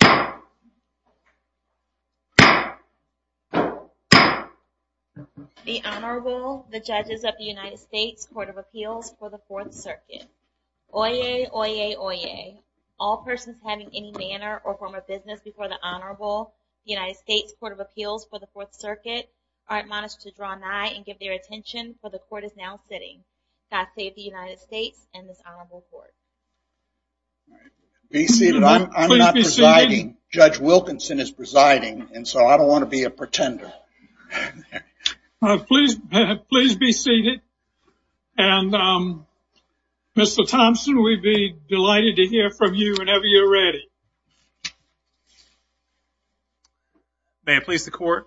The Honorable, the Judges of the United States Court of Appeals for the Fourth Circuit. Oyez, oyez, oyez. All persons having any manner or form of business before the Honorable United States Court of Appeals for the Fourth Circuit are admonished to draw nigh and give their attention, for the Court is now sitting. God save the United States and this Honorable Court. Be seated. I'm not presiding. Judge Wilkinson is presiding, and so I don't want to be a pretender. Please be seated. And Mr. Thompson, we'd be delighted to hear from you whenever you're ready. May it please the Court.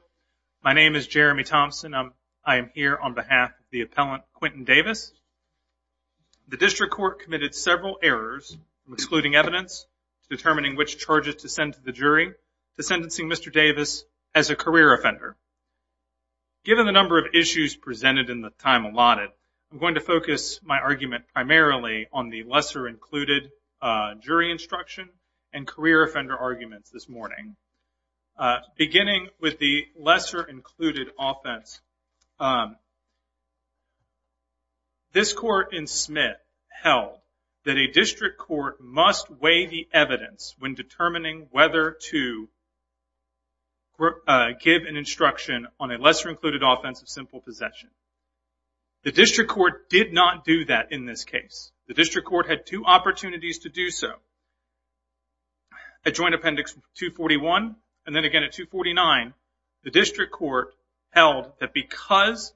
My name is Jeremy Thompson. I am here on behalf of the appellant, Quintin Davis. The District Court committed several errors, excluding evidence, determining which charges to send to the jury, to sentencing Mr. Davis as a career offender. Given the number of issues presented and the time allotted, I'm going to focus my argument primarily on the lesser included jury instruction and career offender arguments this morning. Beginning with the lesser included offense, this Court in Smith held that a District Court must weigh the evidence when determining whether to give an instruction on a lesser included offense of simple possession. The District Court did not do that in this case. The District Court had two opportunities to do so. At Joint Appendix 241 and then again at 249, the District Court held that because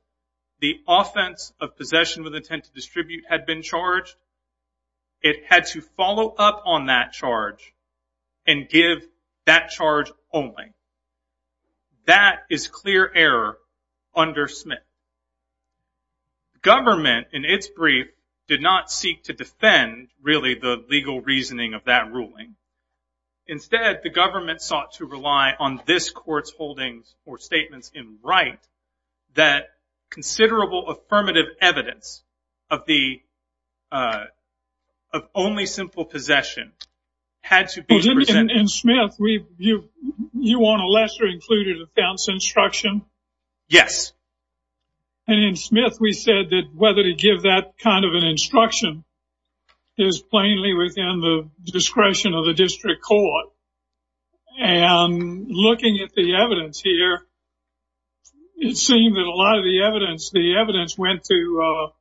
the offense of possession with intent to distribute had been charged, it had to follow up on that charge and give that charge only. That is clear error under Smith. The government, in its brief, did not seek to defend really the legal reasoning of that ruling. Instead, the government sought to rely on this Court's holdings or statements in Wright that considerable affirmative evidence of only simple possession had to be presented. In Smith, you want a lesser included offense instruction? Yes. In Smith, we said that whether to give that kind of an instruction is plainly within the discretion of the District Court. Looking at the evidence here, it seemed that a lot of the evidence went to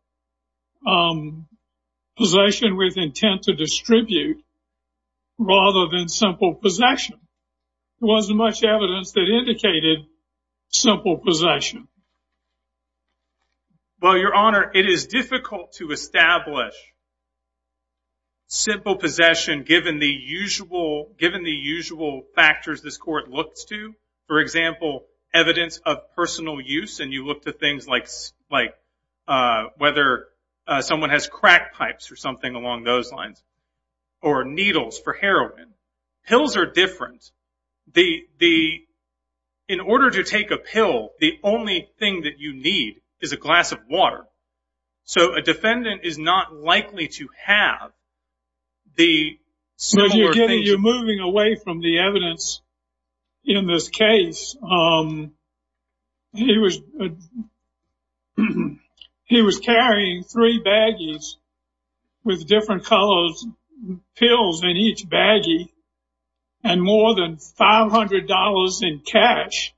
possession with intent to distribute rather than simple possession. There wasn't much evidence that indicated simple possession. Well, Your Honor, it is difficult to establish simple possession given the usual factors this Court looks to. For example, evidence of personal use. You look to things like whether someone has crack pipes or something along those lines or needles for heroin. Pills are different. In order to take a pill, the only thing that you need is a glass of water. So a defendant is not likely to have the similar things. You're moving away from the evidence in this case. He was carrying three baggies with different colored pills in each baggie and more than $500 in cash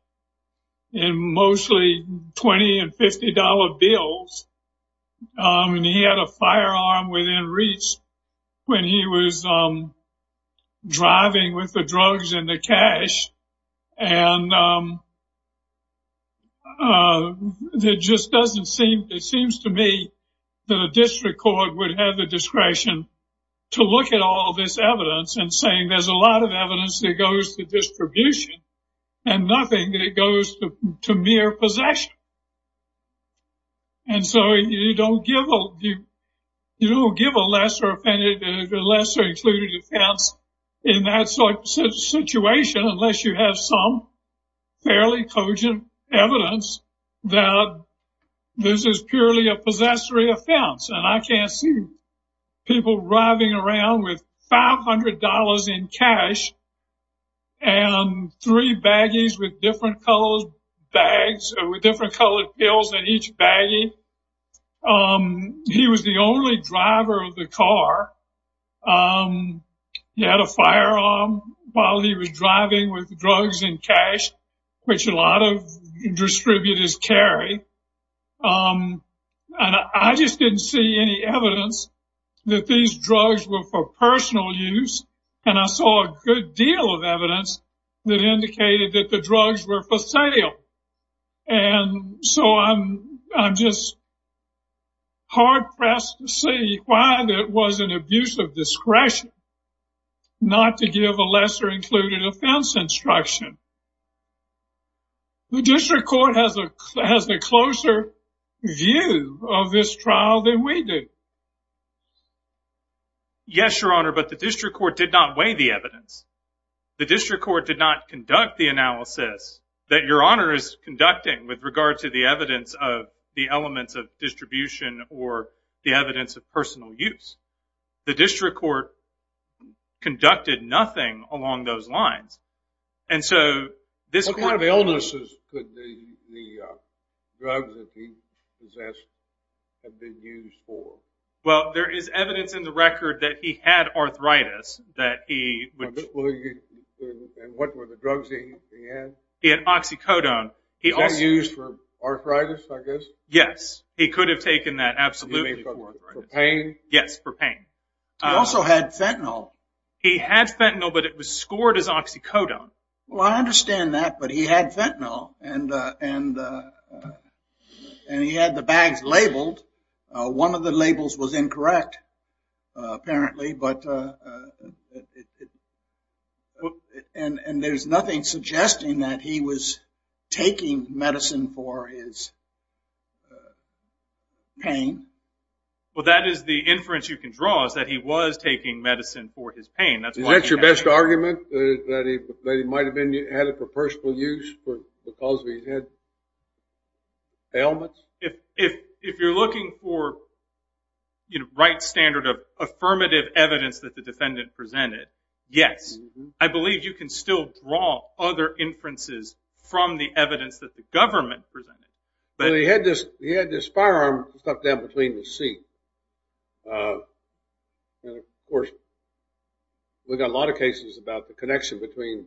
and mostly $20 and $50 bills. He had a firearm within reach when he was driving with the drugs and the cash. And it just doesn't seem, it seems to me that a District Court would have the discretion to look at all this evidence and saying there's a lot of evidence that goes to distribution and nothing that goes to mere possession. And so you don't give a lesser offended, lesser included offense in that situation unless you have some fairly cogent evidence that this is purely a possessory offense. And I can't see people driving around with $500 in cash and three baggies with different colored pills in each baggie. He was the only driver of the car. He had a firearm while he was driving with drugs and cash, which a lot of distributors carry. And I just didn't see any evidence that these drugs were for personal use. And I saw a good deal of evidence that indicated that the drugs were for sale. And so I'm just hard pressed to see why there was an abuse of discretion not to give a lesser included offense instruction. The District Court has a closer view of this trial than we do. Yes, Your Honor, but the District Court did not weigh the evidence. The District Court did not conduct the analysis that Your Honor is conducting with regard to the evidence of the elements of distribution or the evidence of personal use. The District Court conducted nothing along those lines. What kind of illnesses could the drugs that he possessed have been used for? Well, there is evidence in the record that he had arthritis. And what were the drugs he had? He had oxycodone. Was that used for arthritis, I guess? Yes, he could have taken that absolutely for arthritis. For pain? Yes, for pain. He also had fentanyl. He had fentanyl, but it was scored as oxycodone. Well, I understand that, but he had fentanyl. And he had the bags labeled. One of the labels was incorrect, apparently. And there's nothing suggesting that he was taking medicine for his pain. Well, that is the inference you can draw, is that he was taking medicine for his pain. Is that your best argument, that he might have had it for personal use because he had ailments? If you're looking for the right standard of affirmative evidence that the defendant presented, yes. I believe you can still draw other inferences from the evidence that the government presented. Well, he had this firearm stuck down between his seat. And, of course, we've got a lot of cases about the connection between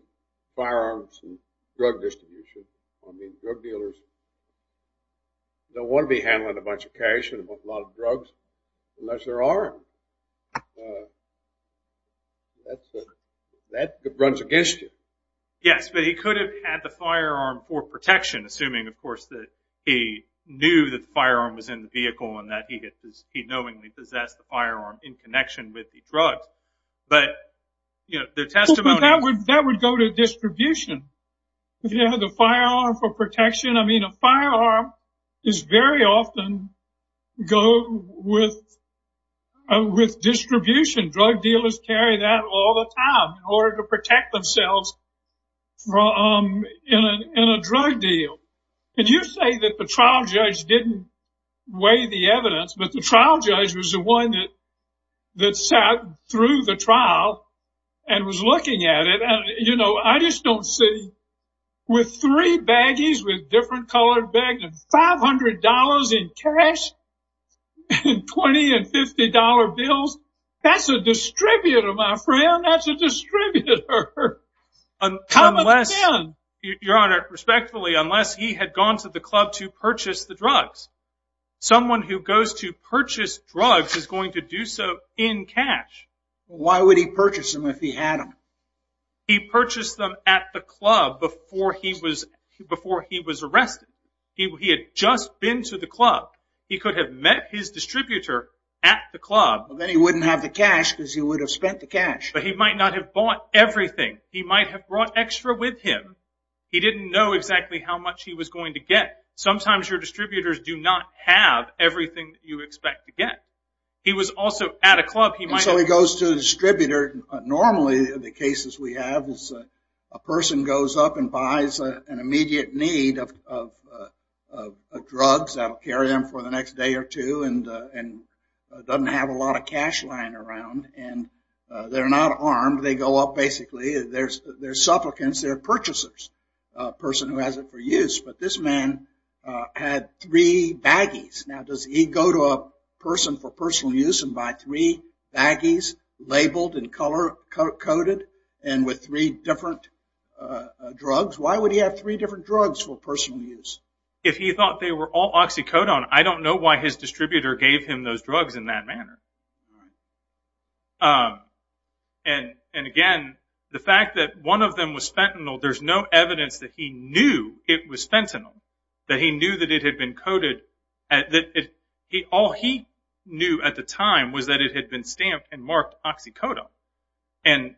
firearms and drug distribution. I mean, drug dealers don't want to be handling a bunch of cash and a whole lot of drugs unless there are any. That runs against you. Yes, but he could have had the firearm for protection, assuming, of course, that he knew that the firearm was in the vehicle and that he knowingly possessed the firearm in connection with the drug. But the testimony— Well, but that would go to distribution. If you have the firearm for protection, I mean, a firearm is very often go with distribution. Drug dealers carry that all the time in order to protect themselves in a drug deal. And you say that the trial judge didn't weigh the evidence, but the trial judge was the one that sat through the trial and was looking at it. And, you know, I just don't see—with three baggies with different colored bags and $500 in cash and $20 and $50 bills, that's a distributor, my friend. That's a distributor. Come again? Your Honor, respectfully, unless he had gone to the club to purchase the drugs, someone who goes to purchase drugs is going to do so in cash. Why would he purchase them if he had them? He purchased them at the club before he was arrested. He had just been to the club. He could have met his distributor at the club. Then he wouldn't have the cash because he would have spent the cash. But he might not have bought everything. He might have brought extra with him. He didn't know exactly how much he was going to get. Sometimes your distributors do not have everything you expect to get. He was also at a club. So he goes to the distributor. Normally, the cases we have is a person goes up and buys an immediate need of drugs. That will carry them for the next day or two and doesn't have a lot of cash lying around. They're not armed. They go up, basically. They're supplicants. They're purchasers, a person who has it for use. But this man had three baggies. Now, does he go to a person for personal use and buy three baggies labeled and color-coded and with three different drugs? Why would he have three different drugs for personal use? If he thought they were all oxycodone, I don't know why his distributor gave him those drugs in that manner. Again, the fact that one of them was fentanyl, there's no evidence that he knew it was fentanyl, that he knew that it had been coded. All he knew at the time was that it had been stamped and marked oxycodone. But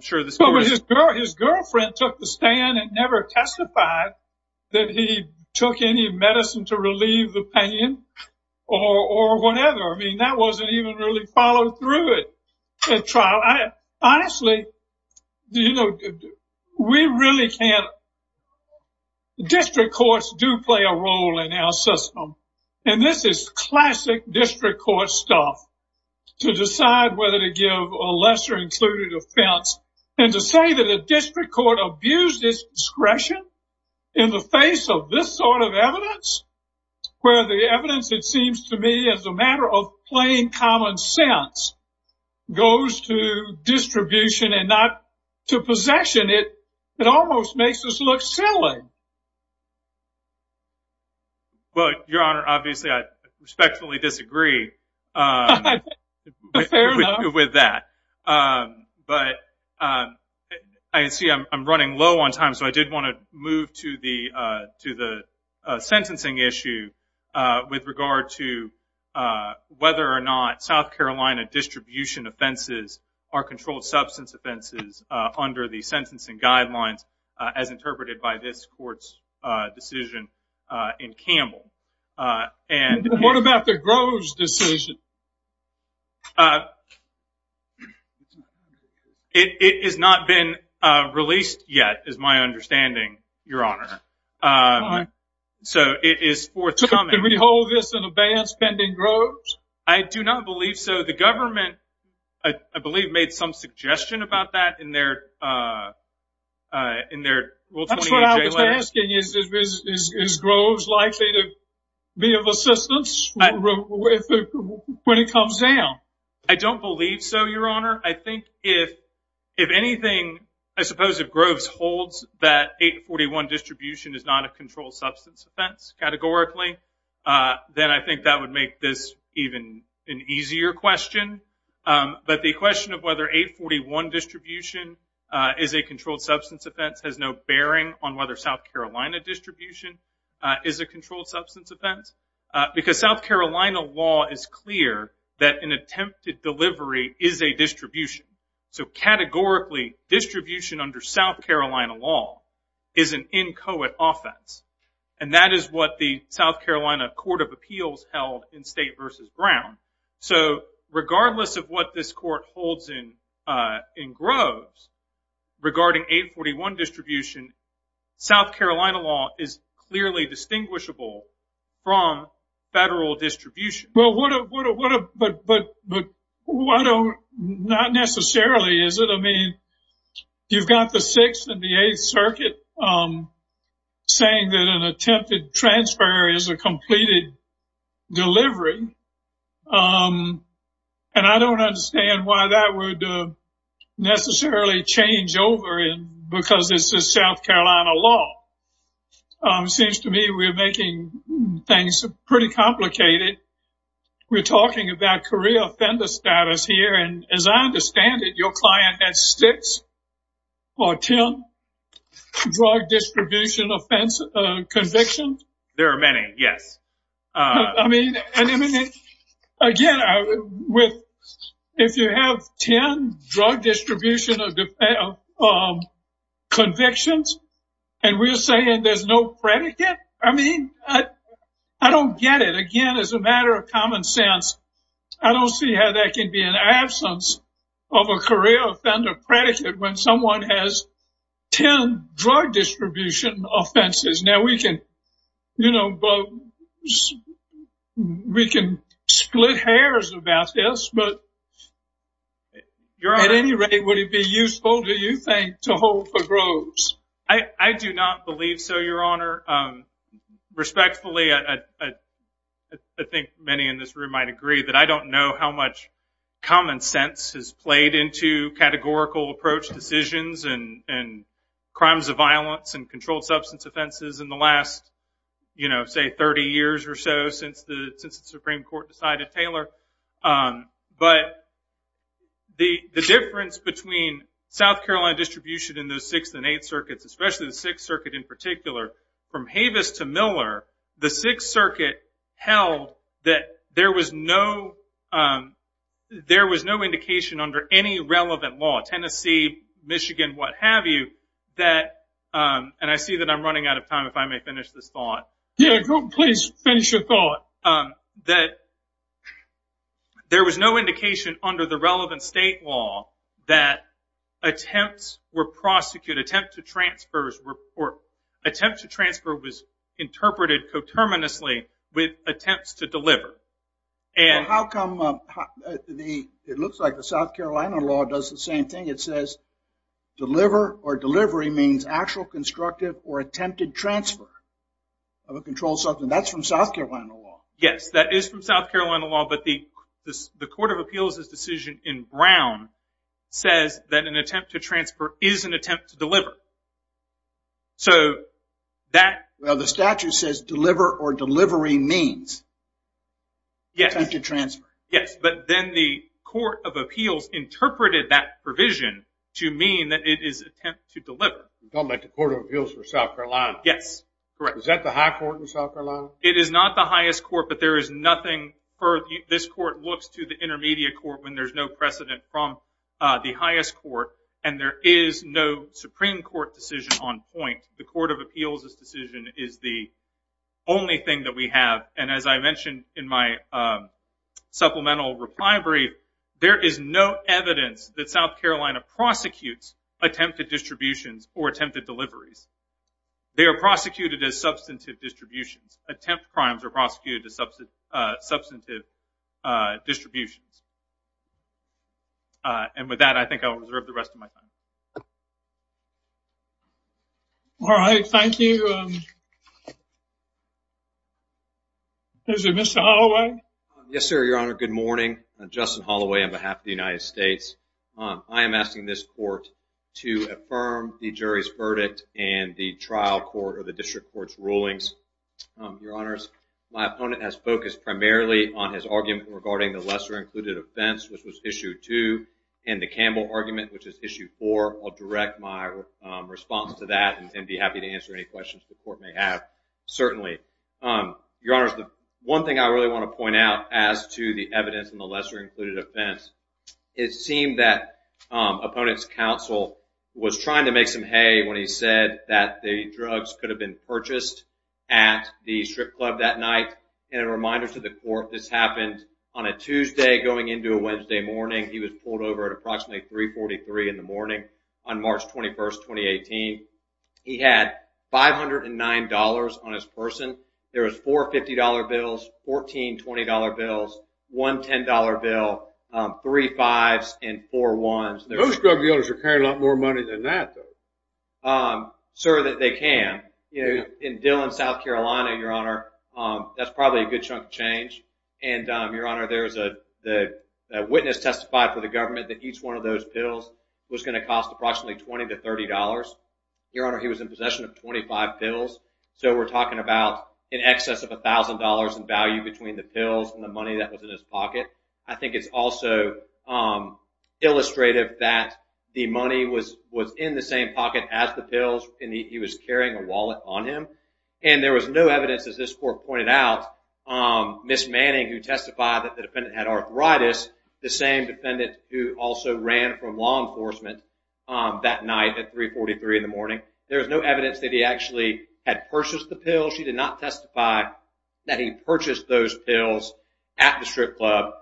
his girlfriend took the stand and never testified that he took any medicine to relieve the pain or whatever. I mean, that wasn't even really followed through at trial. Honestly, we really can't. District courts do play a role in our system, and this is classic district court stuff, to decide whether to give a lesser-included offense. And to say that a district court abused its discretion in the face of this sort of evidence, where the evidence, it seems to me, is a matter of plain common sense, goes to distribution and not to possession, it almost makes us look silly. Well, Your Honor, obviously I respectfully disagree with that. But I see I'm running low on time, so I did want to move to the sentencing issue with regard to whether or not South Carolina distribution offenses are controlled substance offenses under the sentencing guidelines, as interpreted by this court's decision in Campbell. What about the Groves decision? It has not been released yet, is my understanding, Your Honor. So it is forthcoming. Do we hold this in abeyance pending Groves? I do not believe so. But the government, I believe, made some suggestion about that in their Rule 28J letter. That's what I was asking. Is Groves likely to be of assistance when it comes down? I don't believe so, Your Honor. I think if anything, I suppose if Groves holds that 841 distribution is not a controlled substance offense, categorically, then I think that would make this even an easier question. But the question of whether 841 distribution is a controlled substance offense has no bearing on whether South Carolina distribution is a controlled substance offense. Because South Carolina law is clear that an attempted delivery is a distribution. So categorically, distribution under South Carolina law is an inchoate offense. And that is what the South Carolina Court of Appeals held in State v. Brown. So regardless of what this court holds in Groves regarding 841 distribution, South Carolina law is clearly distinguishable from federal distribution. But not necessarily, is it? I mean, you've got the Sixth and the Eighth Circuit saying that an attempted transfer is a completed delivery. And I don't understand why that would necessarily change over because this is South Carolina law. It seems to me we're making things pretty complicated. We're talking about career offender status here. And as I understand it, your client has six or ten drug distribution offense convictions? There are many, yes. Again, if you have ten drug distribution convictions and we're saying there's no predicate? I mean, I don't get it. Again, as a matter of common sense, I don't see how that can be in absence of a career offender predicate when someone has ten drug distribution offenses. Now, we can split hairs about this, but at any rate, would it be useful, do you think, to hold for Groves? I do not believe so, Your Honor. Respectfully, I think many in this room might agree that I don't know how much common sense has played into categorical approach decisions and crimes of violence and controlled substance offenses in the last, say, 30 years or so since the Supreme Court decided Taylor. But the difference between South Carolina distribution in the Sixth and Eighth Circuits, especially the Sixth Circuit in particular, from Havis to Miller, the Sixth Circuit held that there was no indication under any relevant law, Tennessee, Michigan, what have you, and I see that I'm running out of time, if I may finish this thought. Yeah, please finish your thought. That there was no indication under the relevant state law that attempts were prosecuted, that an attempt to transfer was interpreted coterminously with attempts to deliver. It looks like the South Carolina law does the same thing. It says deliver or delivery means actual constructive or attempted transfer of a controlled substance. That's from South Carolina law. Yes, that is from South Carolina law, but the Court of Appeals' decision in Brown says that an attempt to transfer is an attempt to deliver. Well, the statute says deliver or delivery means attempted transfer. Yes, but then the Court of Appeals interpreted that provision to mean that it is an attempt to deliver. You're talking about the Court of Appeals for South Carolina. Yes, correct. Is that the high court in South Carolina? It is not the highest court, but this court looks to the intermediate court when there's no precedent from the highest court, and there is no Supreme Court decision on point. The Court of Appeals' decision is the only thing that we have, and as I mentioned in my supplemental reply brief, there is no evidence that South Carolina prosecutes attempted distributions or attempted deliveries. They are prosecuted as substantive distributions. Attempt crimes are prosecuted as substantive distributions. And with that, I think I'll reserve the rest of my time. All right, thank you. Mr. Holloway? Yes, sir, Your Honor. Good morning. I'm Justin Holloway on behalf of the United States. I am asking this court to affirm the jury's verdict and the trial court or the district court's rulings. Your Honors, my opponent has focused primarily on his argument regarding the lesser-included offense, which was Issue 2, and the Campbell argument, which is Issue 4. I'll direct my response to that and be happy to answer any questions the court may have. Certainly. Your Honors, the one thing I really want to point out as to the evidence in the lesser-included offense, it seemed that opponent's counsel was trying to make some hay when he said that the drugs could have been purchased at the strip club that night. And a reminder to the court, this happened on a Tuesday going into a Wednesday morning. He was pulled over at approximately 343 in the morning on March 21, 2018. He had $509 on his person. There was four $50 bills, 14 $20 bills, one $10 bill, three fives, and four ones. Those drug dealers are carrying a lot more money than that, though. Sir, they can. In Dillon, South Carolina, Your Honor, that's probably a good chunk of change. And, Your Honor, there's a witness testified for the government that each one of those bills was going to cost approximately $20 to $30. Your Honor, he was in possession of 25 bills. So we're talking about in excess of $1,000 in value between the pills and the money that was in his pocket. I think it's also illustrative that the money was in the same pocket as the pills, and he was carrying a wallet on him. And there was no evidence, as this court pointed out, Ms. Manning, who testified that the defendant had arthritis, the same defendant who also ran from law enforcement that night at 343 in the morning, there was no evidence that he actually had purchased the pills. She did not testify that he purchased those pills at the strip club.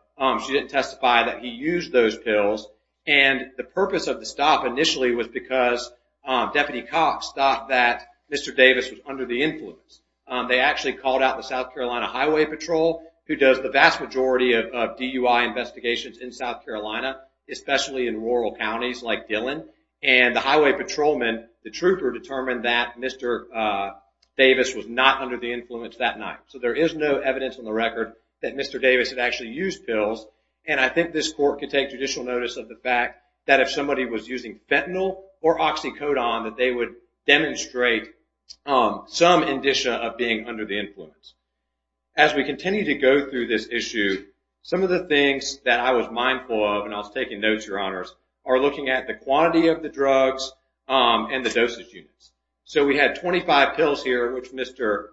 She didn't testify that he used those pills. And the purpose of the stop initially was because deputy cops thought that Mr. Davis was under the influence. They actually called out the South Carolina Highway Patrol, who does the vast majority of DUI investigations in South Carolina, especially in rural counties like Dillon. And the highway patrolman, the trooper, determined that Mr. Davis was not under the influence that night. So there is no evidence on the record that Mr. Davis had actually used pills. And I think this court could take judicial notice of the fact that if somebody was using fentanyl or oxycodone, that they would demonstrate some indicia of being under the influence. As we continue to go through this issue, some of the things that I was mindful of, and I was taking notes, Your Honors, are looking at the quantity of the drugs and the dosage units. So we had 25 pills here, which Mr.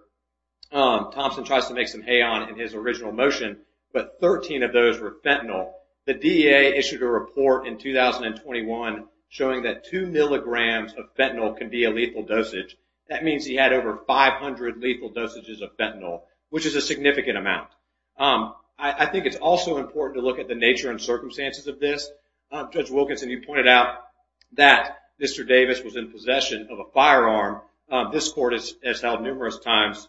Thompson tries to make some hay on in his original motion, but 13 of those were fentanyl. The DEA issued a report in 2021 showing that two milligrams of fentanyl can be a lethal dosage. That means he had over 500 lethal dosages of fentanyl, which is a significant amount. I think it's also important to look at the nature and circumstances of this. Judge Wilkinson, you pointed out that Mr. Davis was in possession of a firearm. This court has held numerous times,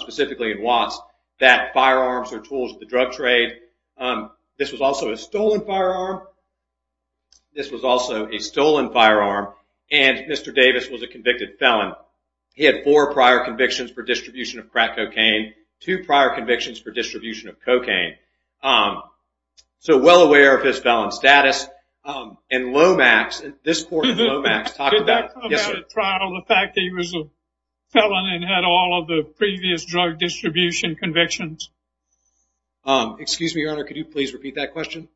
specifically in Watts, that firearms are tools of the drug trade. This was also a stolen firearm. This was also a stolen firearm, and Mr. Davis was a convicted felon. He had four prior convictions for distribution of crack cocaine, two prior convictions for distribution of cocaine. So well aware of his felon status. And Lomax, this court in Lomax talked about- Did that come out at trial, the fact that he was a felon and had all of the previous drug distribution convictions? Excuse me, Your Honor, could you please repeat that question?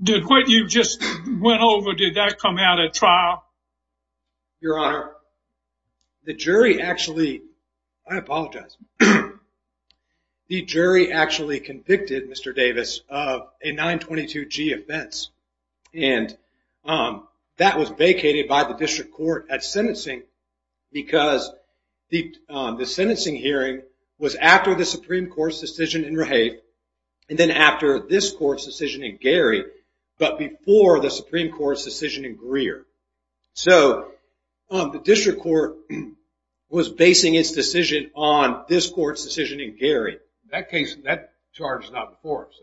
What you just went over, did that come out at trial? Your Honor, the jury actually- I apologize. The jury actually convicted Mr. Davis of a 922-G offense, and that was vacated by the district court at sentencing because the sentencing hearing was after the Supreme Court's decision in Rahafe, and then after this court's decision in Gary, but before the Supreme Court's decision in Greer. So the district court was basing its decision on this court's decision in Gary. That case, that charge is not before us.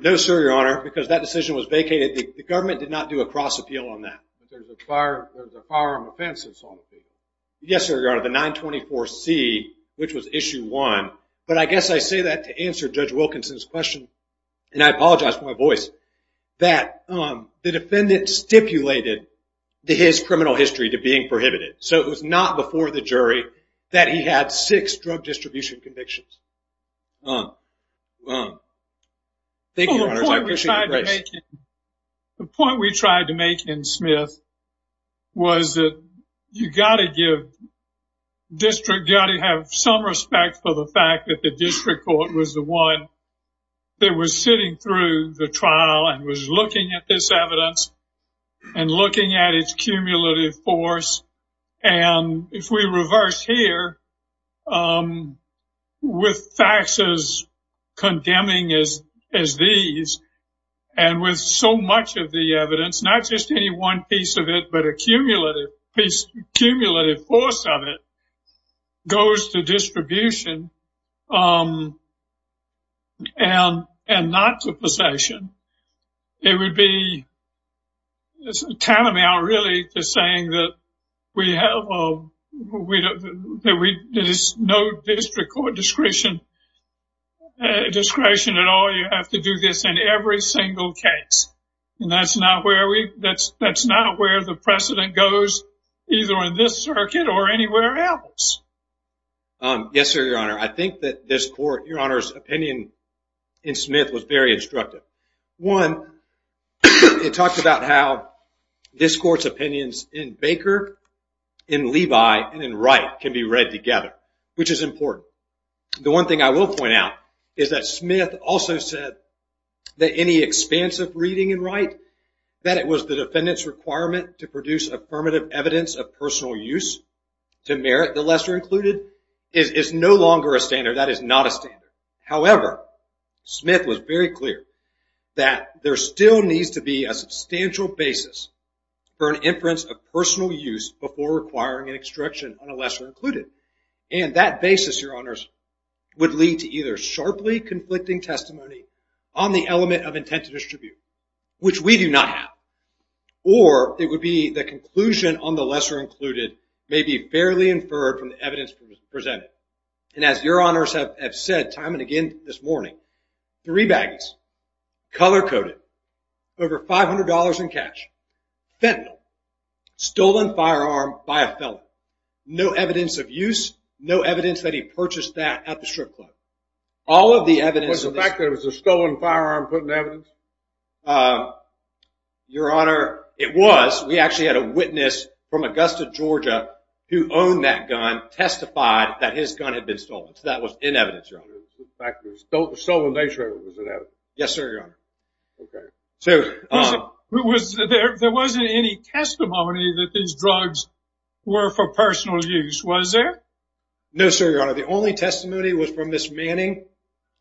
No, sir, Your Honor, because that decision was vacated. The government did not do a cross appeal on that. There's a firearm offense that's on the case. Yes, sir, Your Honor, the 924-C, which was issue one. But I guess I say that to answer Judge Wilkinson's question, and I apologize for my voice, that the defendant stipulated his criminal history to being prohibited. So it was not before the jury that he had six drug distribution convictions. Thank you, Your Honor, I appreciate your grace. The point we tried to make in Smith was that you've got to give district- you've got to have some respect for the fact that the district court was the one that was sitting through the trial and was looking at this evidence and looking at its cumulative force. And if we reverse here, with facts as condemning as these, and with so much of the evidence, not just any one piece of it, but a cumulative force of it goes to distribution and not to possession, it would be tantamount really to saying that there is no district court discretion at all. You have to do this in every single case. And that's not where the precedent goes, either in this circuit or anywhere else. Yes, sir, Your Honor, I think that this court- Your Honor's opinion in Smith was very instructive. One, it talked about how this court's opinions in Baker, in Levi, and in Wright can be read together, which is important. The one thing I will point out is that Smith also said that any expansive reading in Wright, that it was the defendant's requirement to produce affirmative evidence of personal use to merit the lesser included, is no longer a standard. That is not a standard. However, Smith was very clear that there still needs to be a substantial basis for an inference of personal use before requiring an extraction on a lesser included. And that basis, Your Honors, would lead to either sharply conflicting testimony on the element of intent to distribute, which we do not have, or it would be the conclusion on the lesser included may be fairly inferred from the evidence presented. And as Your Honors have said time and again this morning, three baggies, color-coded, over $500 in cash, fentanyl, stolen firearm by a felon, no evidence of use, no evidence that he purchased that at the strip club. All of the evidence... Was the fact that it was a stolen firearm put in evidence? Your Honor, it was. We actually had a witness from Augusta, Georgia, who owned that gun, testified that his gun had been stolen. So that was in evidence, Your Honor. The fact that it was stolen nature of it was in evidence. Yes, sir, Your Honor. There wasn't any testimony that these drugs were for personal use, was there? No, sir, Your Honor. The only testimony was from Ms. Manning,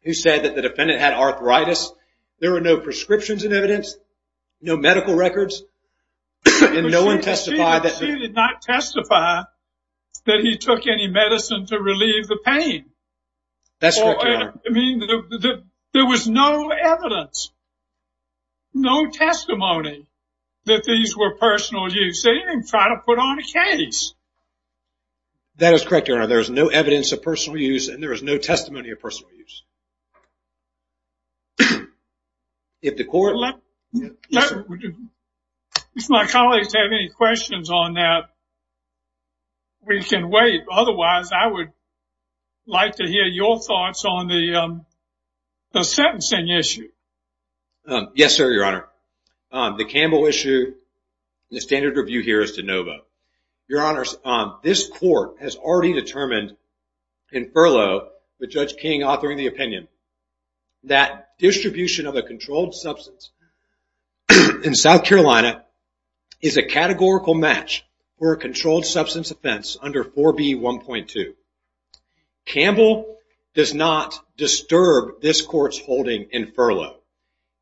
who said that the defendant had arthritis. There were no prescriptions in evidence, no medical records, and no one testified. She did not testify that he took any medicine to relieve the pain. That's correct, Your Honor. There was no evidence, no testimony that these were personal use. They didn't try to put on a case. That is correct, Your Honor. There is no evidence of personal use, and there is no testimony of personal use. If the court... If my colleagues have any questions on that, we can wait. Otherwise, I would like to hear your thoughts on the sentencing issue. Yes, sir, Your Honor. The Campbell issue, the standard review here is de novo. Your Honor, this court has already determined in furlough with Judge King authoring the opinion that distribution of a controlled substance in South Carolina is a categorical match for a controlled substance offense under 4B1.2. Campbell does not disturb this court's holding in furlough.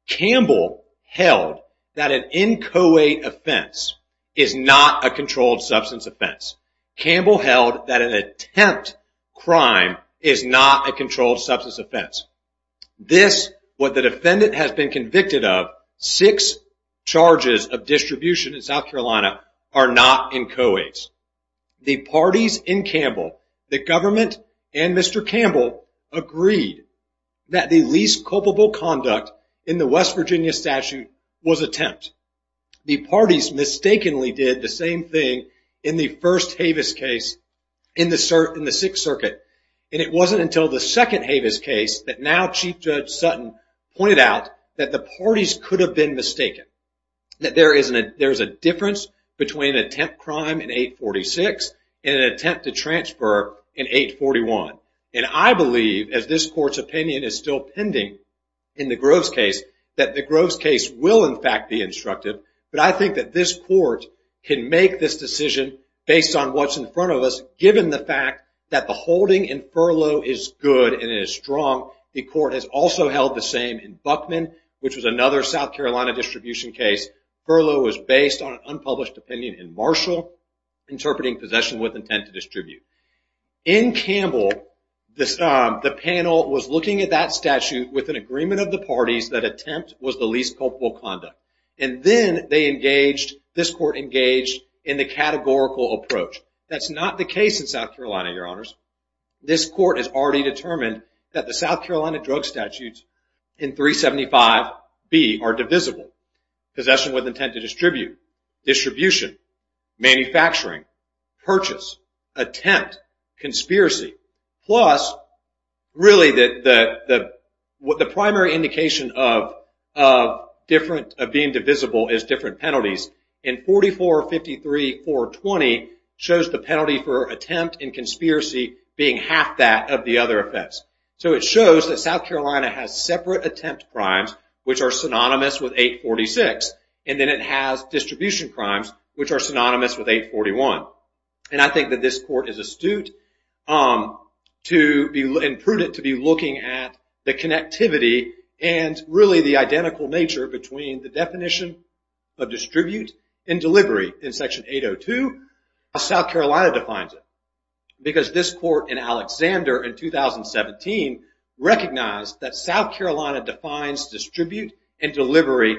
Campbell held that an inchoate offense is not a controlled substance offense. Campbell held that an attempt crime is not a controlled substance offense. This, what the defendant has been convicted of, six charges of distribution in South Carolina are not inchoates. The parties in Campbell, the government and Mr. Campbell, agreed that the least culpable conduct in the West Virginia statute was attempt. The parties mistakenly did the same thing in the first Havis case in the Sixth Circuit, and it wasn't until the second Havis case that now Chief Judge Sutton pointed out that the parties could have been mistaken, that there is a difference between an attempt crime in 846 and an attempt to transfer in 841. And I believe, as this court's opinion is still pending in the Groves case, that the Groves case will, in fact, be instructed. But I think that this court can make this decision based on what's in front of us, given the fact that the holding in furlough is good and is strong. The court has also held the same in Buckman, which was another South Carolina distribution case. Furlough was based on an unpublished opinion in Marshall, interpreting possession with intent to distribute. In Campbell, the panel was looking at that statute with an agreement of the parties that attempt was the least culpable conduct. And then they engaged, this court engaged, in the categorical approach. That's not the case in South Carolina, Your Honors. This court has already determined that the South Carolina drug statutes in 375B are divisible. Possession with intent to distribute. Distribution. Manufacturing. Purchase. Attempt. Conspiracy. Plus, really, the primary indication of being divisible is different penalties. And 4453.420 shows the penalty for attempt and conspiracy being half that of the other effects. So it shows that South Carolina has separate attempt crimes, which are synonymous with 846. And then it has distribution crimes, which are synonymous with 841. And I think that this court is astute and prudent to be looking at the connectivity and really the identical nature between the definition of distribute and delivery in Section 802. South Carolina defines it. Because this court in Alexander in 2017 recognized that South Carolina defines distribute and delivery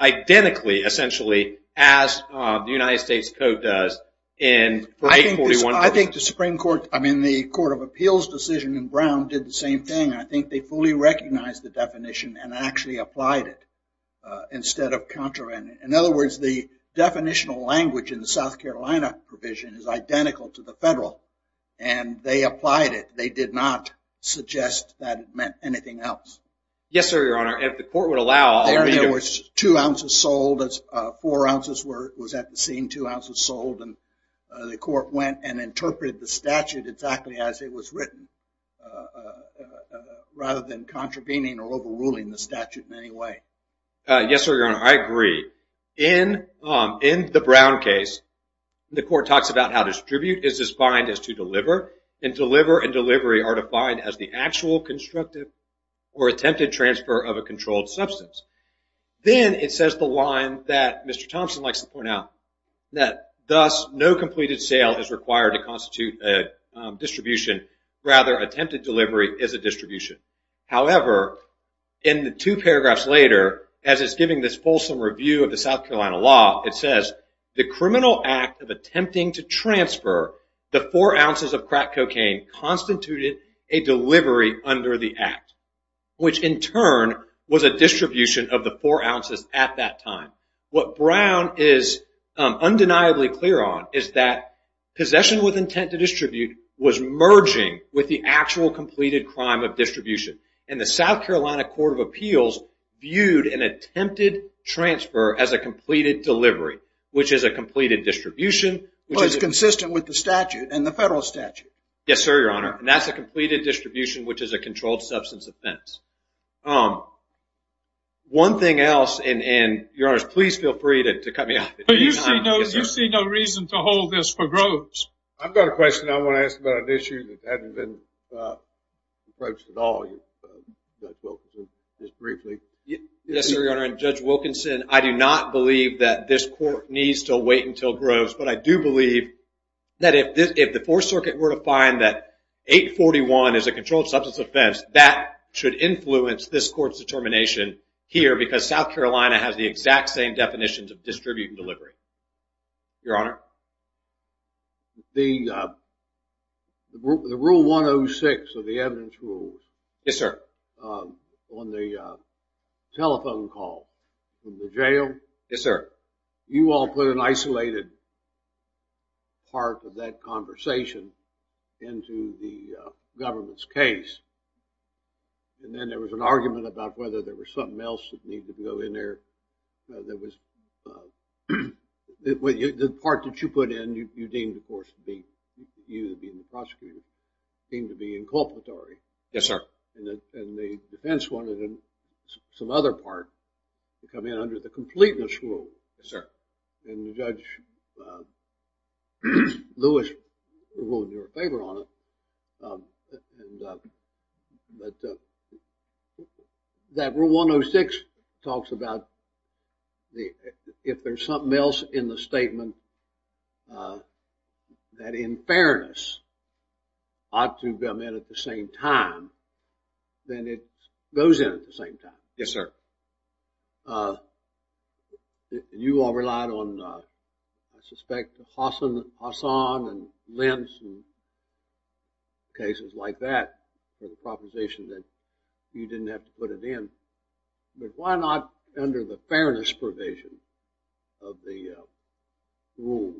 identically, essentially, as the United States Code does in 841. I think the Supreme Court, I mean, the Court of Appeals decision in Brown did the same thing. I think they fully recognized the definition and actually applied it instead of countering it. In other words, the definitional language in the South Carolina provision is identical to the federal. And they applied it. They did not suggest that it meant anything else. Yes, sir, Your Honor. If the court would allow, I'll read it. There was two ounces sold. Four ounces was at the scene. Two ounces sold. And the court went and interpreted the statute exactly as it was written, rather than contravening or overruling the statute in any way. Yes, sir, Your Honor. I agree. In the Brown case, the court talks about how distribute is defined as to deliver, and deliver and delivery are defined as the actual constructive or attempted transfer of a controlled substance. Then it says the line that Mr. Thompson likes to point out, that thus no completed sale is required to constitute a distribution. Rather, attempted delivery is a distribution. However, in the two paragraphs later, as it's giving this fulsome review of the South Carolina law, it says the criminal act of attempting to transfer the four ounces of crack cocaine a delivery under the act, which in turn was a distribution of the four ounces at that time. What Brown is undeniably clear on is that possession with intent to distribute was merging with the actual completed crime of distribution. And the South Carolina Court of Appeals viewed an attempted transfer as a completed delivery, which is a completed distribution. Well, it's consistent with the statute and the federal statute. Yes, sir, Your Honor. And that's a completed distribution, which is a controlled substance offense. One thing else, and Your Honors, please feel free to cut me off at any time. But you see no reason to hold this for Groves. I've got a question I want to ask about an issue that hasn't been approached at all, Judge Wilkinson, just briefly. Yes, sir, Your Honor, and Judge Wilkinson, I do not believe that this court needs to wait until Groves, but I do believe that if the Fourth Circuit were to find that 841 is a controlled substance offense, that should influence this court's determination here because South Carolina has the exact same definitions of distribute and delivery. Your Honor? The Rule 106 of the Evidence Rule on the telephone call from the jail, you all put an isolated part of that conversation into the government's case, and then there was an argument about whether there was something else that needed to go in there. The part that you put in, you deemed, of course, you being the prosecutor, seemed to be inculpatory. Yes, sir. And the defense wanted some other part to come in under the Completeness Rule. Yes, sir. And Judge Lewis ruled in your favor on it. That Rule 106 talks about if there's something else in the statement that, in fairness, ought to come in at the same time, then it goes in at the same time. Yes, sir. You all relied on, I suspect, Hassan and Lentz and cases like that for the proposition that you didn't have to put it in. But why not, under the fairness provision of the Rule,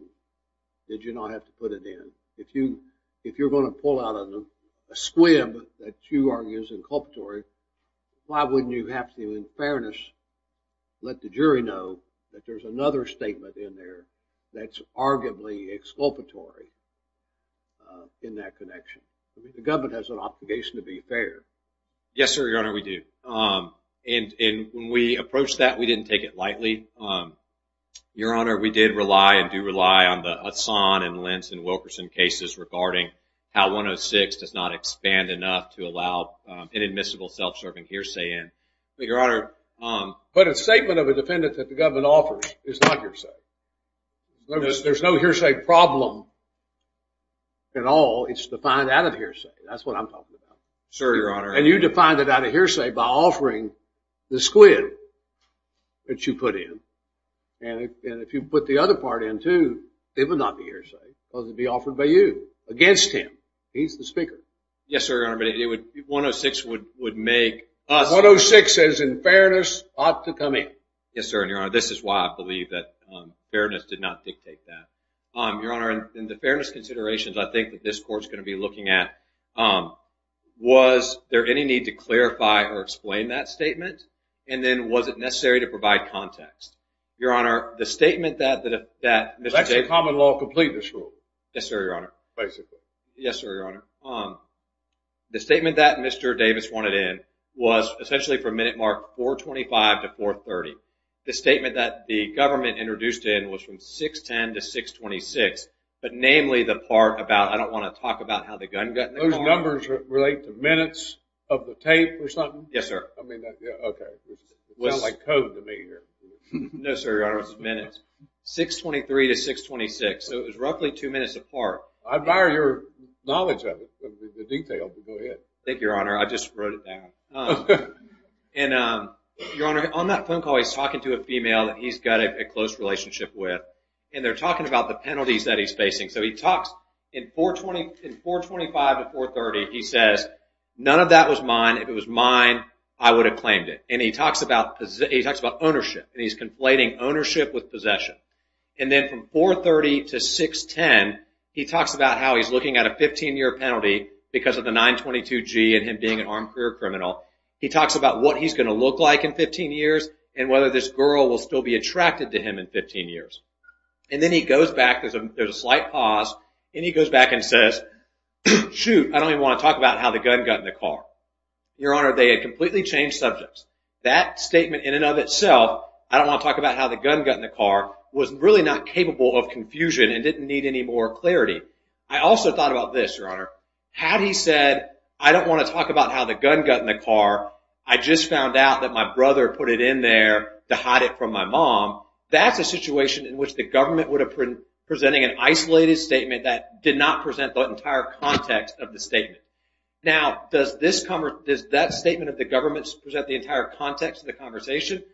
did you not have to put it in? If you're going to pull out a squib that you argue is inculpatory, why wouldn't you have to, in fairness, let the jury know that there's another statement in there that's arguably exculpatory in that connection? The government has an obligation to be fair. Yes, sir, Your Honor, we do. And when we approached that, we didn't take it lightly. Your Honor, we did rely and do rely on the Hassan and Lentz and Wilkerson cases regarding how 106 does not expand enough to allow inadmissible self-serving hearsay in. Your Honor, but a statement of a defendant that the government offers is not hearsay. There's no hearsay problem at all. It's defined out of hearsay. That's what I'm talking about. Sir, Your Honor. And you defined it out of hearsay by offering the squib that you put in. And if you put the other part in, too, it would not be hearsay. It would be offered by you against him. He's the speaker. Yes, sir, Your Honor, but 106 would make us. 106 says, in fairness, ought to come in. Yes, sir, and, Your Honor, this is why I believe that fairness did not dictate that. Your Honor, in the fairness considerations, I think that this Court's going to be looking at was there any need to clarify or explain that statement, and then was it necessary to provide context. Your Honor, the statement that Mr. Davis That's a common law complaint, this Court. Yes, sir, Your Honor. Basically. Yes, sir, Your Honor. The statement that Mr. Davis wanted in was essentially from minute mark 425 to 430. The statement that the government introduced in was from 610 to 626, Those numbers relate to minutes of the tape or something? Yes, sir. Okay. It sounds like code to me here. No, sir, Your Honor, it's minutes. 623 to 626. So it was roughly two minutes apart. I admire your knowledge of it, the detail, but go ahead. Thank you, Your Honor. I just wrote it down. And, Your Honor, on that phone call, he's talking to a female that he's got a close relationship with, and they're talking about the penalties that he's facing. So he talks in 425 to 430, he says, None of that was mine. If it was mine, I would have claimed it. And he talks about ownership, and he's conflating ownership with possession. And then from 430 to 610, he talks about how he's looking at a 15-year penalty because of the 922G and him being an armed career criminal. He talks about what he's going to look like in 15 years and whether this girl will still be attracted to him in 15 years. And then he goes back, there's a slight pause, and he goes back and says, Shoot, I don't even want to talk about how the gun got in the car. Your Honor, they had completely changed subjects. That statement in and of itself, I don't want to talk about how the gun got in the car, was really not capable of confusion and didn't need any more clarity. I also thought about this, Your Honor. Had he said, I don't want to talk about how the gun got in the car, I just found out that my brother put it in there to hide it from my mom, that's a situation in which the government would have been presenting an isolated statement that did not present the entire context of the statement. Now, does that statement of the government present the entire context of the conversation?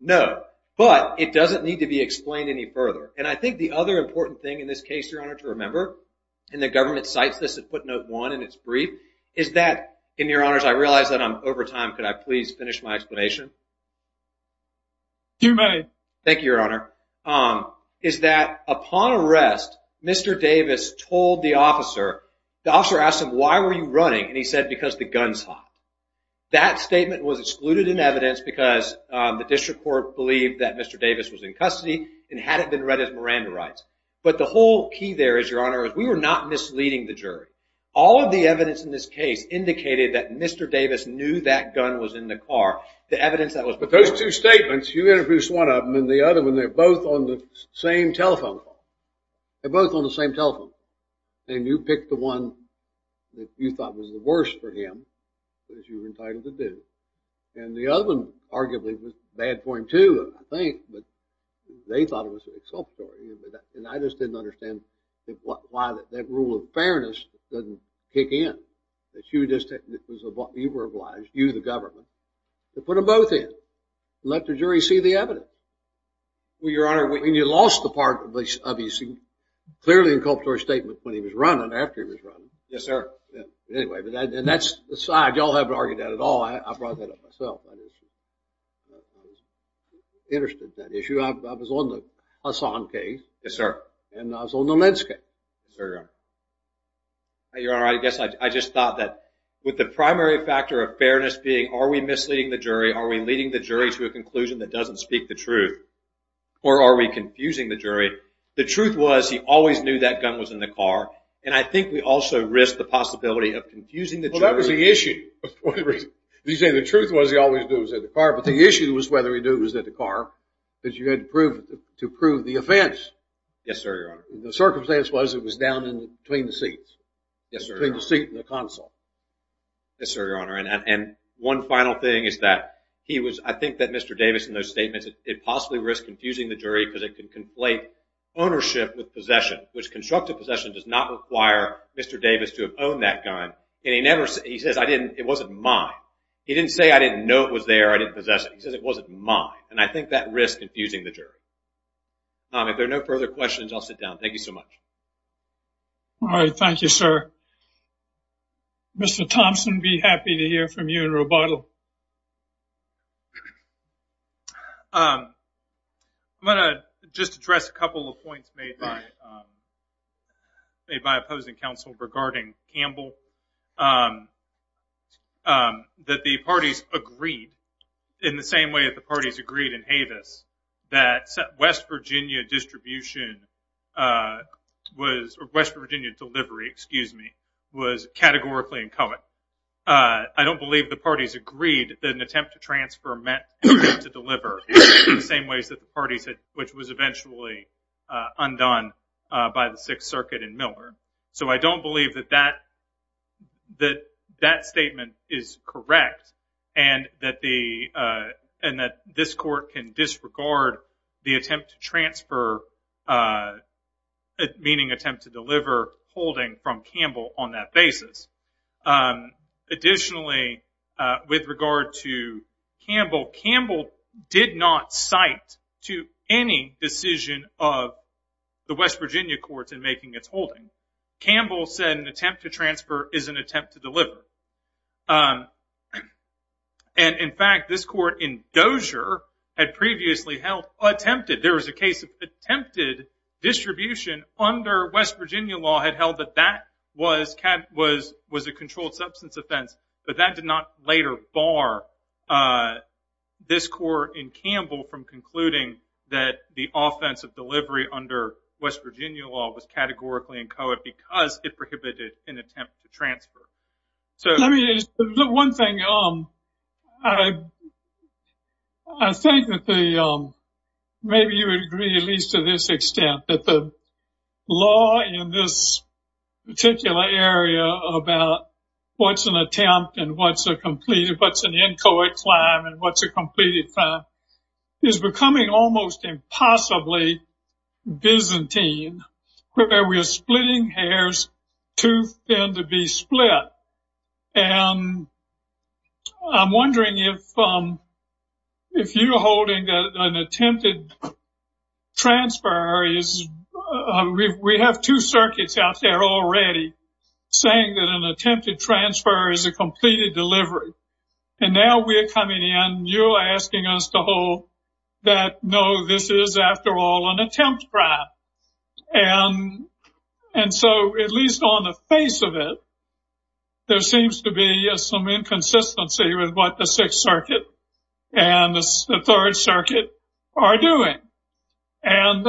No, but it doesn't need to be explained any further. And I think the other important thing in this case, Your Honor, to remember, and the government cites this at footnote one in its brief, is that, and Your Honors, I realize that I'm over time. Could I please finish my explanation? You may. Thank you, Your Honor. Is that upon arrest, Mr. Davis told the officer, the officer asked him, why were you running? And he said, because the gun's hot. That statement was excluded in evidence because the district court believed that Mr. Davis was in custody and had it been read as Miranda rights. But the whole key there is, Your Honor, is we were not misleading the jury. All of the evidence in this case indicated that Mr. Davis knew that gun was in the car. But those two statements, you introduced one of them, and the other one, they're both on the same telephone call. They're both on the same telephone call. And you picked the one that you thought was the worst for him, because you were entitled to do it. And the other one, arguably, was bad for him, too, I think, but they thought it was exculpatory. And I just didn't understand why that rule of fairness doesn't kick in. You were obliged, you the government, to put them both in and let the jury see the evidence. Well, Your Honor, you lost the part of his clearly inculpatory statement when he was running, after he was running. Yes, sir. Anyway, but that's aside, you all haven't argued that at all. I brought that up myself. I was interested in that issue. I was on the Hassan case. Yes, sir. And I was on the Lentz case. Yes, sir. Your Honor, I guess I just thought that with the primary factor of fairness being are we misleading the jury, are we leading the jury to a conclusion that doesn't speak the truth, or are we confusing the jury? The truth was he always knew that gun was in the car, and I think we also risked the possibility of confusing the jury. Well, that was the issue. You say the truth was he always knew it was in the car, but the issue was whether he knew it was in the car, because you had to prove the offense. Yes, sir, Your Honor. The circumstance was it was down between the seats. Yes, sir, Your Honor. Between the seat and the console. Yes, sir, Your Honor. And one final thing is that I think that Mr. Davis in those statements, it possibly risked confusing the jury because it could conflate ownership with possession, which constructive possession does not require Mr. Davis to have owned that gun. He says, I didn't, it wasn't mine. He didn't say, I didn't know it was there, I didn't possess it. He says, it wasn't mine, and I think that risked confusing the jury. Tom, if there are no further questions, I'll sit down. Thank you so much. All right. Thank you, sir. Mr. Thompson, be happy to hear from you in rebuttal. I'm going to just address a couple of points made by opposing counsel regarding Campbell. That the parties agreed in the same way that the parties agreed in Havis that West Virginia distribution was, or West Virginia delivery, excuse me, was categorically incoherent. I don't believe the parties agreed that an attempt to transfer meant an attempt to deliver in the same ways that the parties had, which was eventually undone by the Sixth Circuit in Miller. So I don't believe that that statement is correct and that this court can disregard the attempt to transfer, meaning attempt to deliver, holding from Campbell on that basis. Additionally, with regard to Campbell, Campbell did not cite to any decision of the West Virginia courts in making its holding. Campbell said an attempt to transfer is an attempt to deliver. And, in fact, this court in Dozier had previously held attempted. There was a case of attempted distribution under West Virginia law had held that that was a controlled substance offense, but that did not later bar this court in Campbell from concluding that the court was incoherent because it prohibited an attempt to transfer. Let me just say one thing. I think that maybe you would agree at least to this extent that the law in this particular area about what's an attempt and what's an incoherent claim and what's a completed claim is becoming almost impossibly Byzantine, where we are splitting hairs too thin to be split. And I'm wondering if you're holding that an attempted transfer is we have two circuits out there already saying that an attempted transfer is a completed delivery. And now we're coming in and you're asking us to hold that, no, this is, after all, an attempt crime. And so at least on the face of it, there seems to be some inconsistency with what the Sixth Circuit and the Third Circuit are doing. And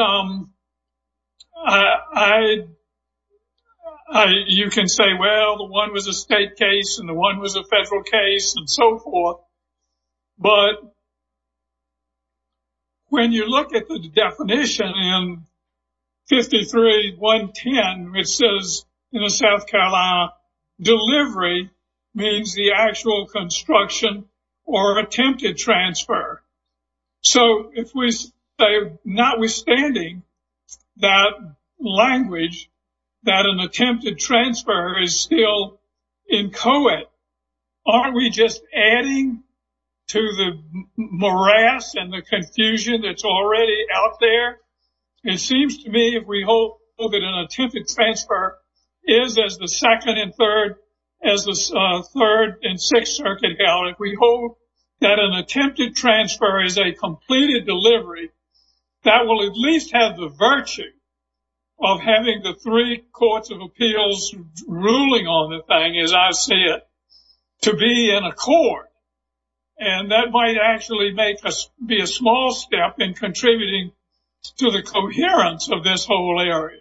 you can say, well, the one was a state case and the one was a federal case and so forth. But when you look at the definition in 53.110, it says in the South Carolina delivery means the actual construction or attempted transfer. So if we say notwithstanding that language that an attempted transfer is still incoherent, aren't we just adding to the morass and the confusion that's already out there? It seems to me if we hope that an attempted transfer is as the Second and Third, as the Third and Sixth Circuit held, if we hope that an attempted transfer is a completed delivery, that will at least have the virtue of having the three courts of appeals ruling on the thing, as I see it, to be in accord. And that might actually be a small step in contributing to the coherence of this whole area.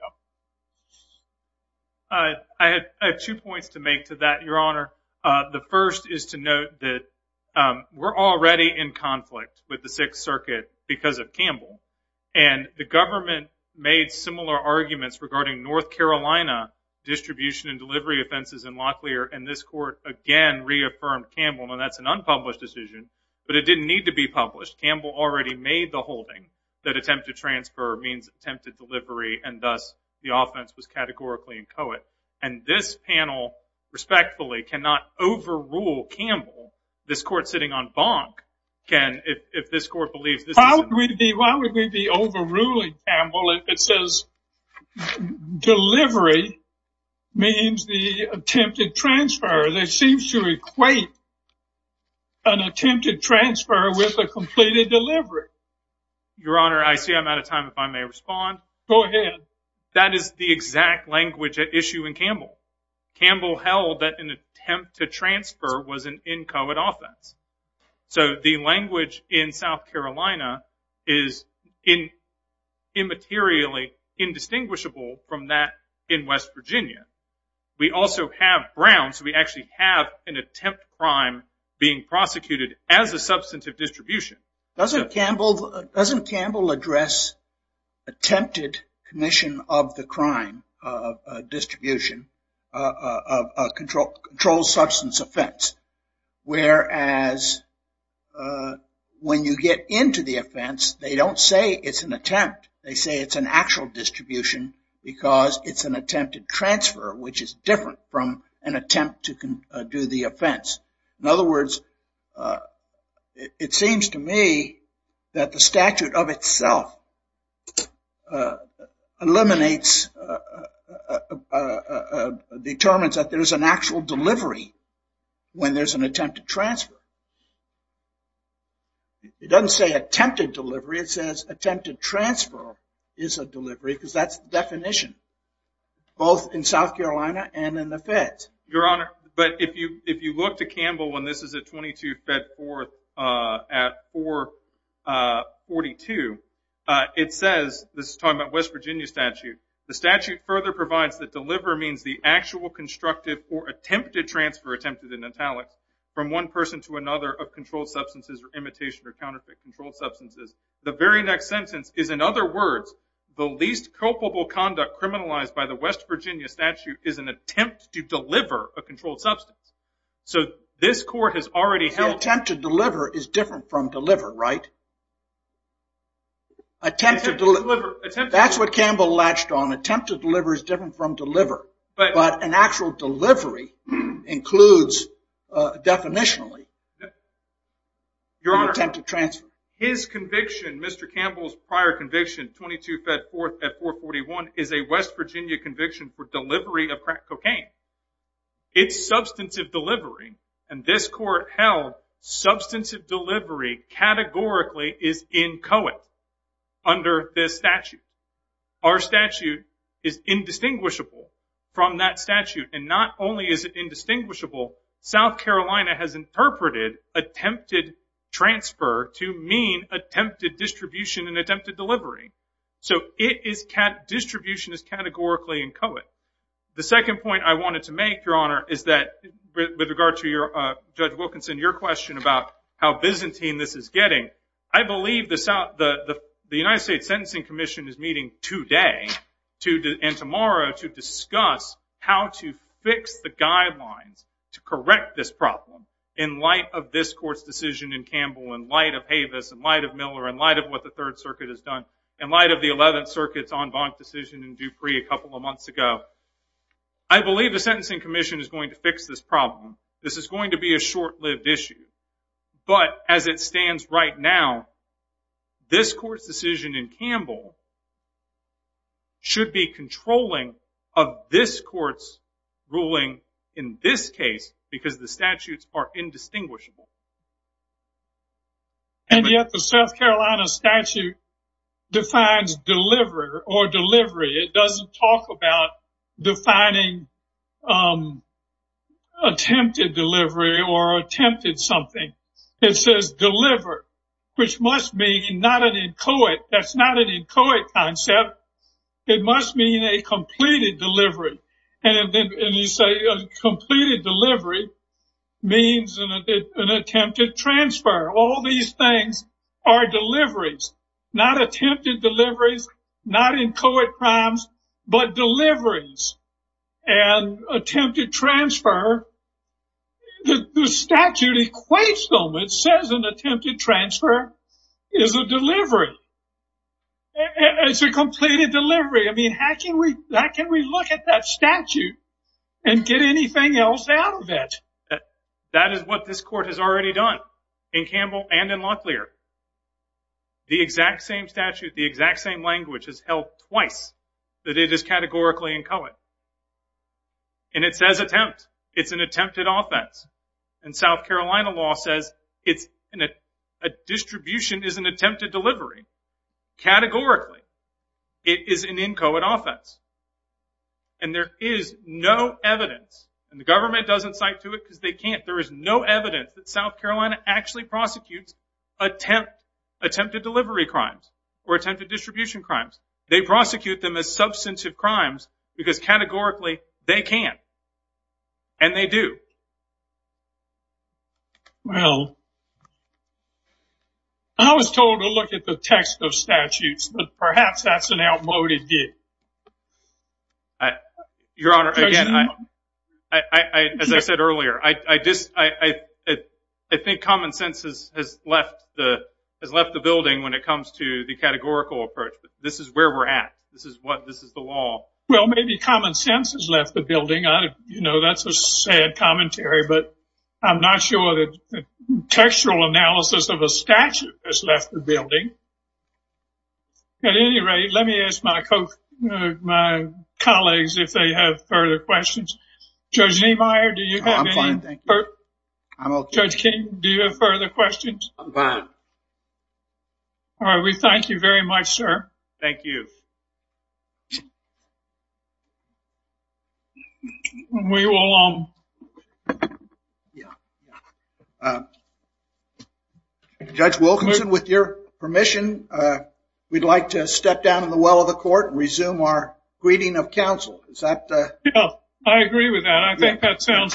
I have two points to make to that, Your Honor. The first is to note that we're already in conflict with the Sixth Circuit because of Campbell. And the government made similar arguments regarding North Carolina distribution and delivery offenses in Locklear, and this court, again, reaffirmed Campbell. Now, that's an unpublished decision, but it didn't need to be published. Campbell already made the holding that attempted transfer means attempted delivery, and thus the offense was categorically inchoate. And this panel, respectfully, cannot overrule Campbell. This court sitting on Bonk can, if this court believes this is incoherent. Why would we be overruling Campbell if it says delivery means the attempted transfer? That seems to equate an attempted transfer with a completed delivery. Your Honor, I see I'm out of time, if I may respond. Go ahead. That is the exact language at issue in Campbell. Campbell held that an attempt to transfer was an inchoate offense. So the language in South Carolina is immaterially indistinguishable from that in West Virginia. We also have Brown, so we actually have an attempt crime being prosecuted as a substantive distribution. Doesn't Campbell address attempted commission of the crime distribution, a controlled substance offense? Whereas when you get into the offense, they don't say it's an attempt. They say it's an actual distribution because it's an attempted transfer, which is different from an attempt to do the offense. In other words, it seems to me that the statute of itself eliminates, determines that there's an actual delivery when there's an attempted transfer. It doesn't say attempted delivery. It says attempted transfer is a delivery because that's the definition, both in South Carolina and in the feds. Your Honor, but if you look to Campbell, and this is at 22 Fed 4th at 442, it says, this is talking about West Virginia statute, the statute further provides that deliver means the actual constructive or attempted transfer, attempted in italics, from one person to another of controlled substances or imitation or counterfeit controlled substances. The very next sentence is, in other words, the least culpable conduct criminalized by the West Virginia statute is an attempt to deliver a controlled substance. So this court has already held- The attempt to deliver is different from deliver, right? Attempt to deliver. That's what Campbell latched on. Attempt to deliver is different from deliver. But an actual delivery includes, definitionally, an attempted transfer. Your Honor, his conviction, Mr. Campbell's prior conviction, 22 Fed 4th at 441, is a West Virginia conviction for delivery of crack cocaine. It's substantive delivery, and this court held substantive delivery categorically is inchoate under this statute. Our statute is indistinguishable from that statute, and not only is it indistinguishable, South Carolina has interpreted attempted transfer to mean attempted distribution and attempted delivery. So distribution is categorically inchoate. The second point I wanted to make, Your Honor, is that with regard to Judge Wilkinson, your question about how Byzantine this is getting, I believe the United States Sentencing Commission is meeting today and tomorrow to discuss how to fix the guidelines to correct this problem in light of this court's decision in Campbell, in light of Havis, in light of Miller, in light of what the Third Circuit has done, in light of the Eleventh Circuit's en banc decision in Dupree a couple of months ago. I believe the Sentencing Commission is going to fix this problem. This is going to be a short-lived issue. But as it stands right now, this court's decision in Campbell should be controlling of this court's ruling in this case because the statutes are indistinguishable. And yet the South Carolina statute defines deliver or delivery. It doesn't talk about defining attempted delivery or attempted something. It says deliver, which must mean not an inchoate. That's not an inchoate concept. It must mean a completed delivery. And you say a completed delivery means an attempted transfer. All these things are deliveries, not attempted deliveries, not inchoate crimes, but deliveries. And attempted transfer, the statute equates them. It says an attempted transfer is a delivery. It's a completed delivery. I mean, how can we look at that statute and get anything else out of it? That is what this court has already done in Campbell and in Locklear. The exact same statute, the exact same language, has held twice that it is categorically inchoate. And it says attempt. It's an attempted offense. And South Carolina law says a distribution is an attempted delivery, categorically. It is an inchoate offense. And there is no evidence, and the government doesn't cite to it because they can't. There is no evidence that South Carolina actually prosecutes attempted delivery crimes or attempted distribution crimes. They prosecute them as substantive crimes because categorically they can, and they do. Well, I was told to look at the text of statutes, but perhaps that's an outmoded view. Your Honor, again, as I said earlier, I think common sense has left the building when it comes to the categorical approach. This is where we're at. This is the law. Well, maybe common sense has left the building. You know, that's a sad commentary, but I'm not sure the textual analysis of a statute has left the building. At any rate, let me ask my colleagues if they have further questions. Judge Niemeyer, do you have any? I'm fine, thank you. Judge King, do you have further questions? I'm fine. All right, we thank you very much, sir. Thank you. We will. Judge Wilkinson, with your permission, we'd like to step down in the well of the court and resume our greeting of counsel. I agree with that. I think that sounds fine.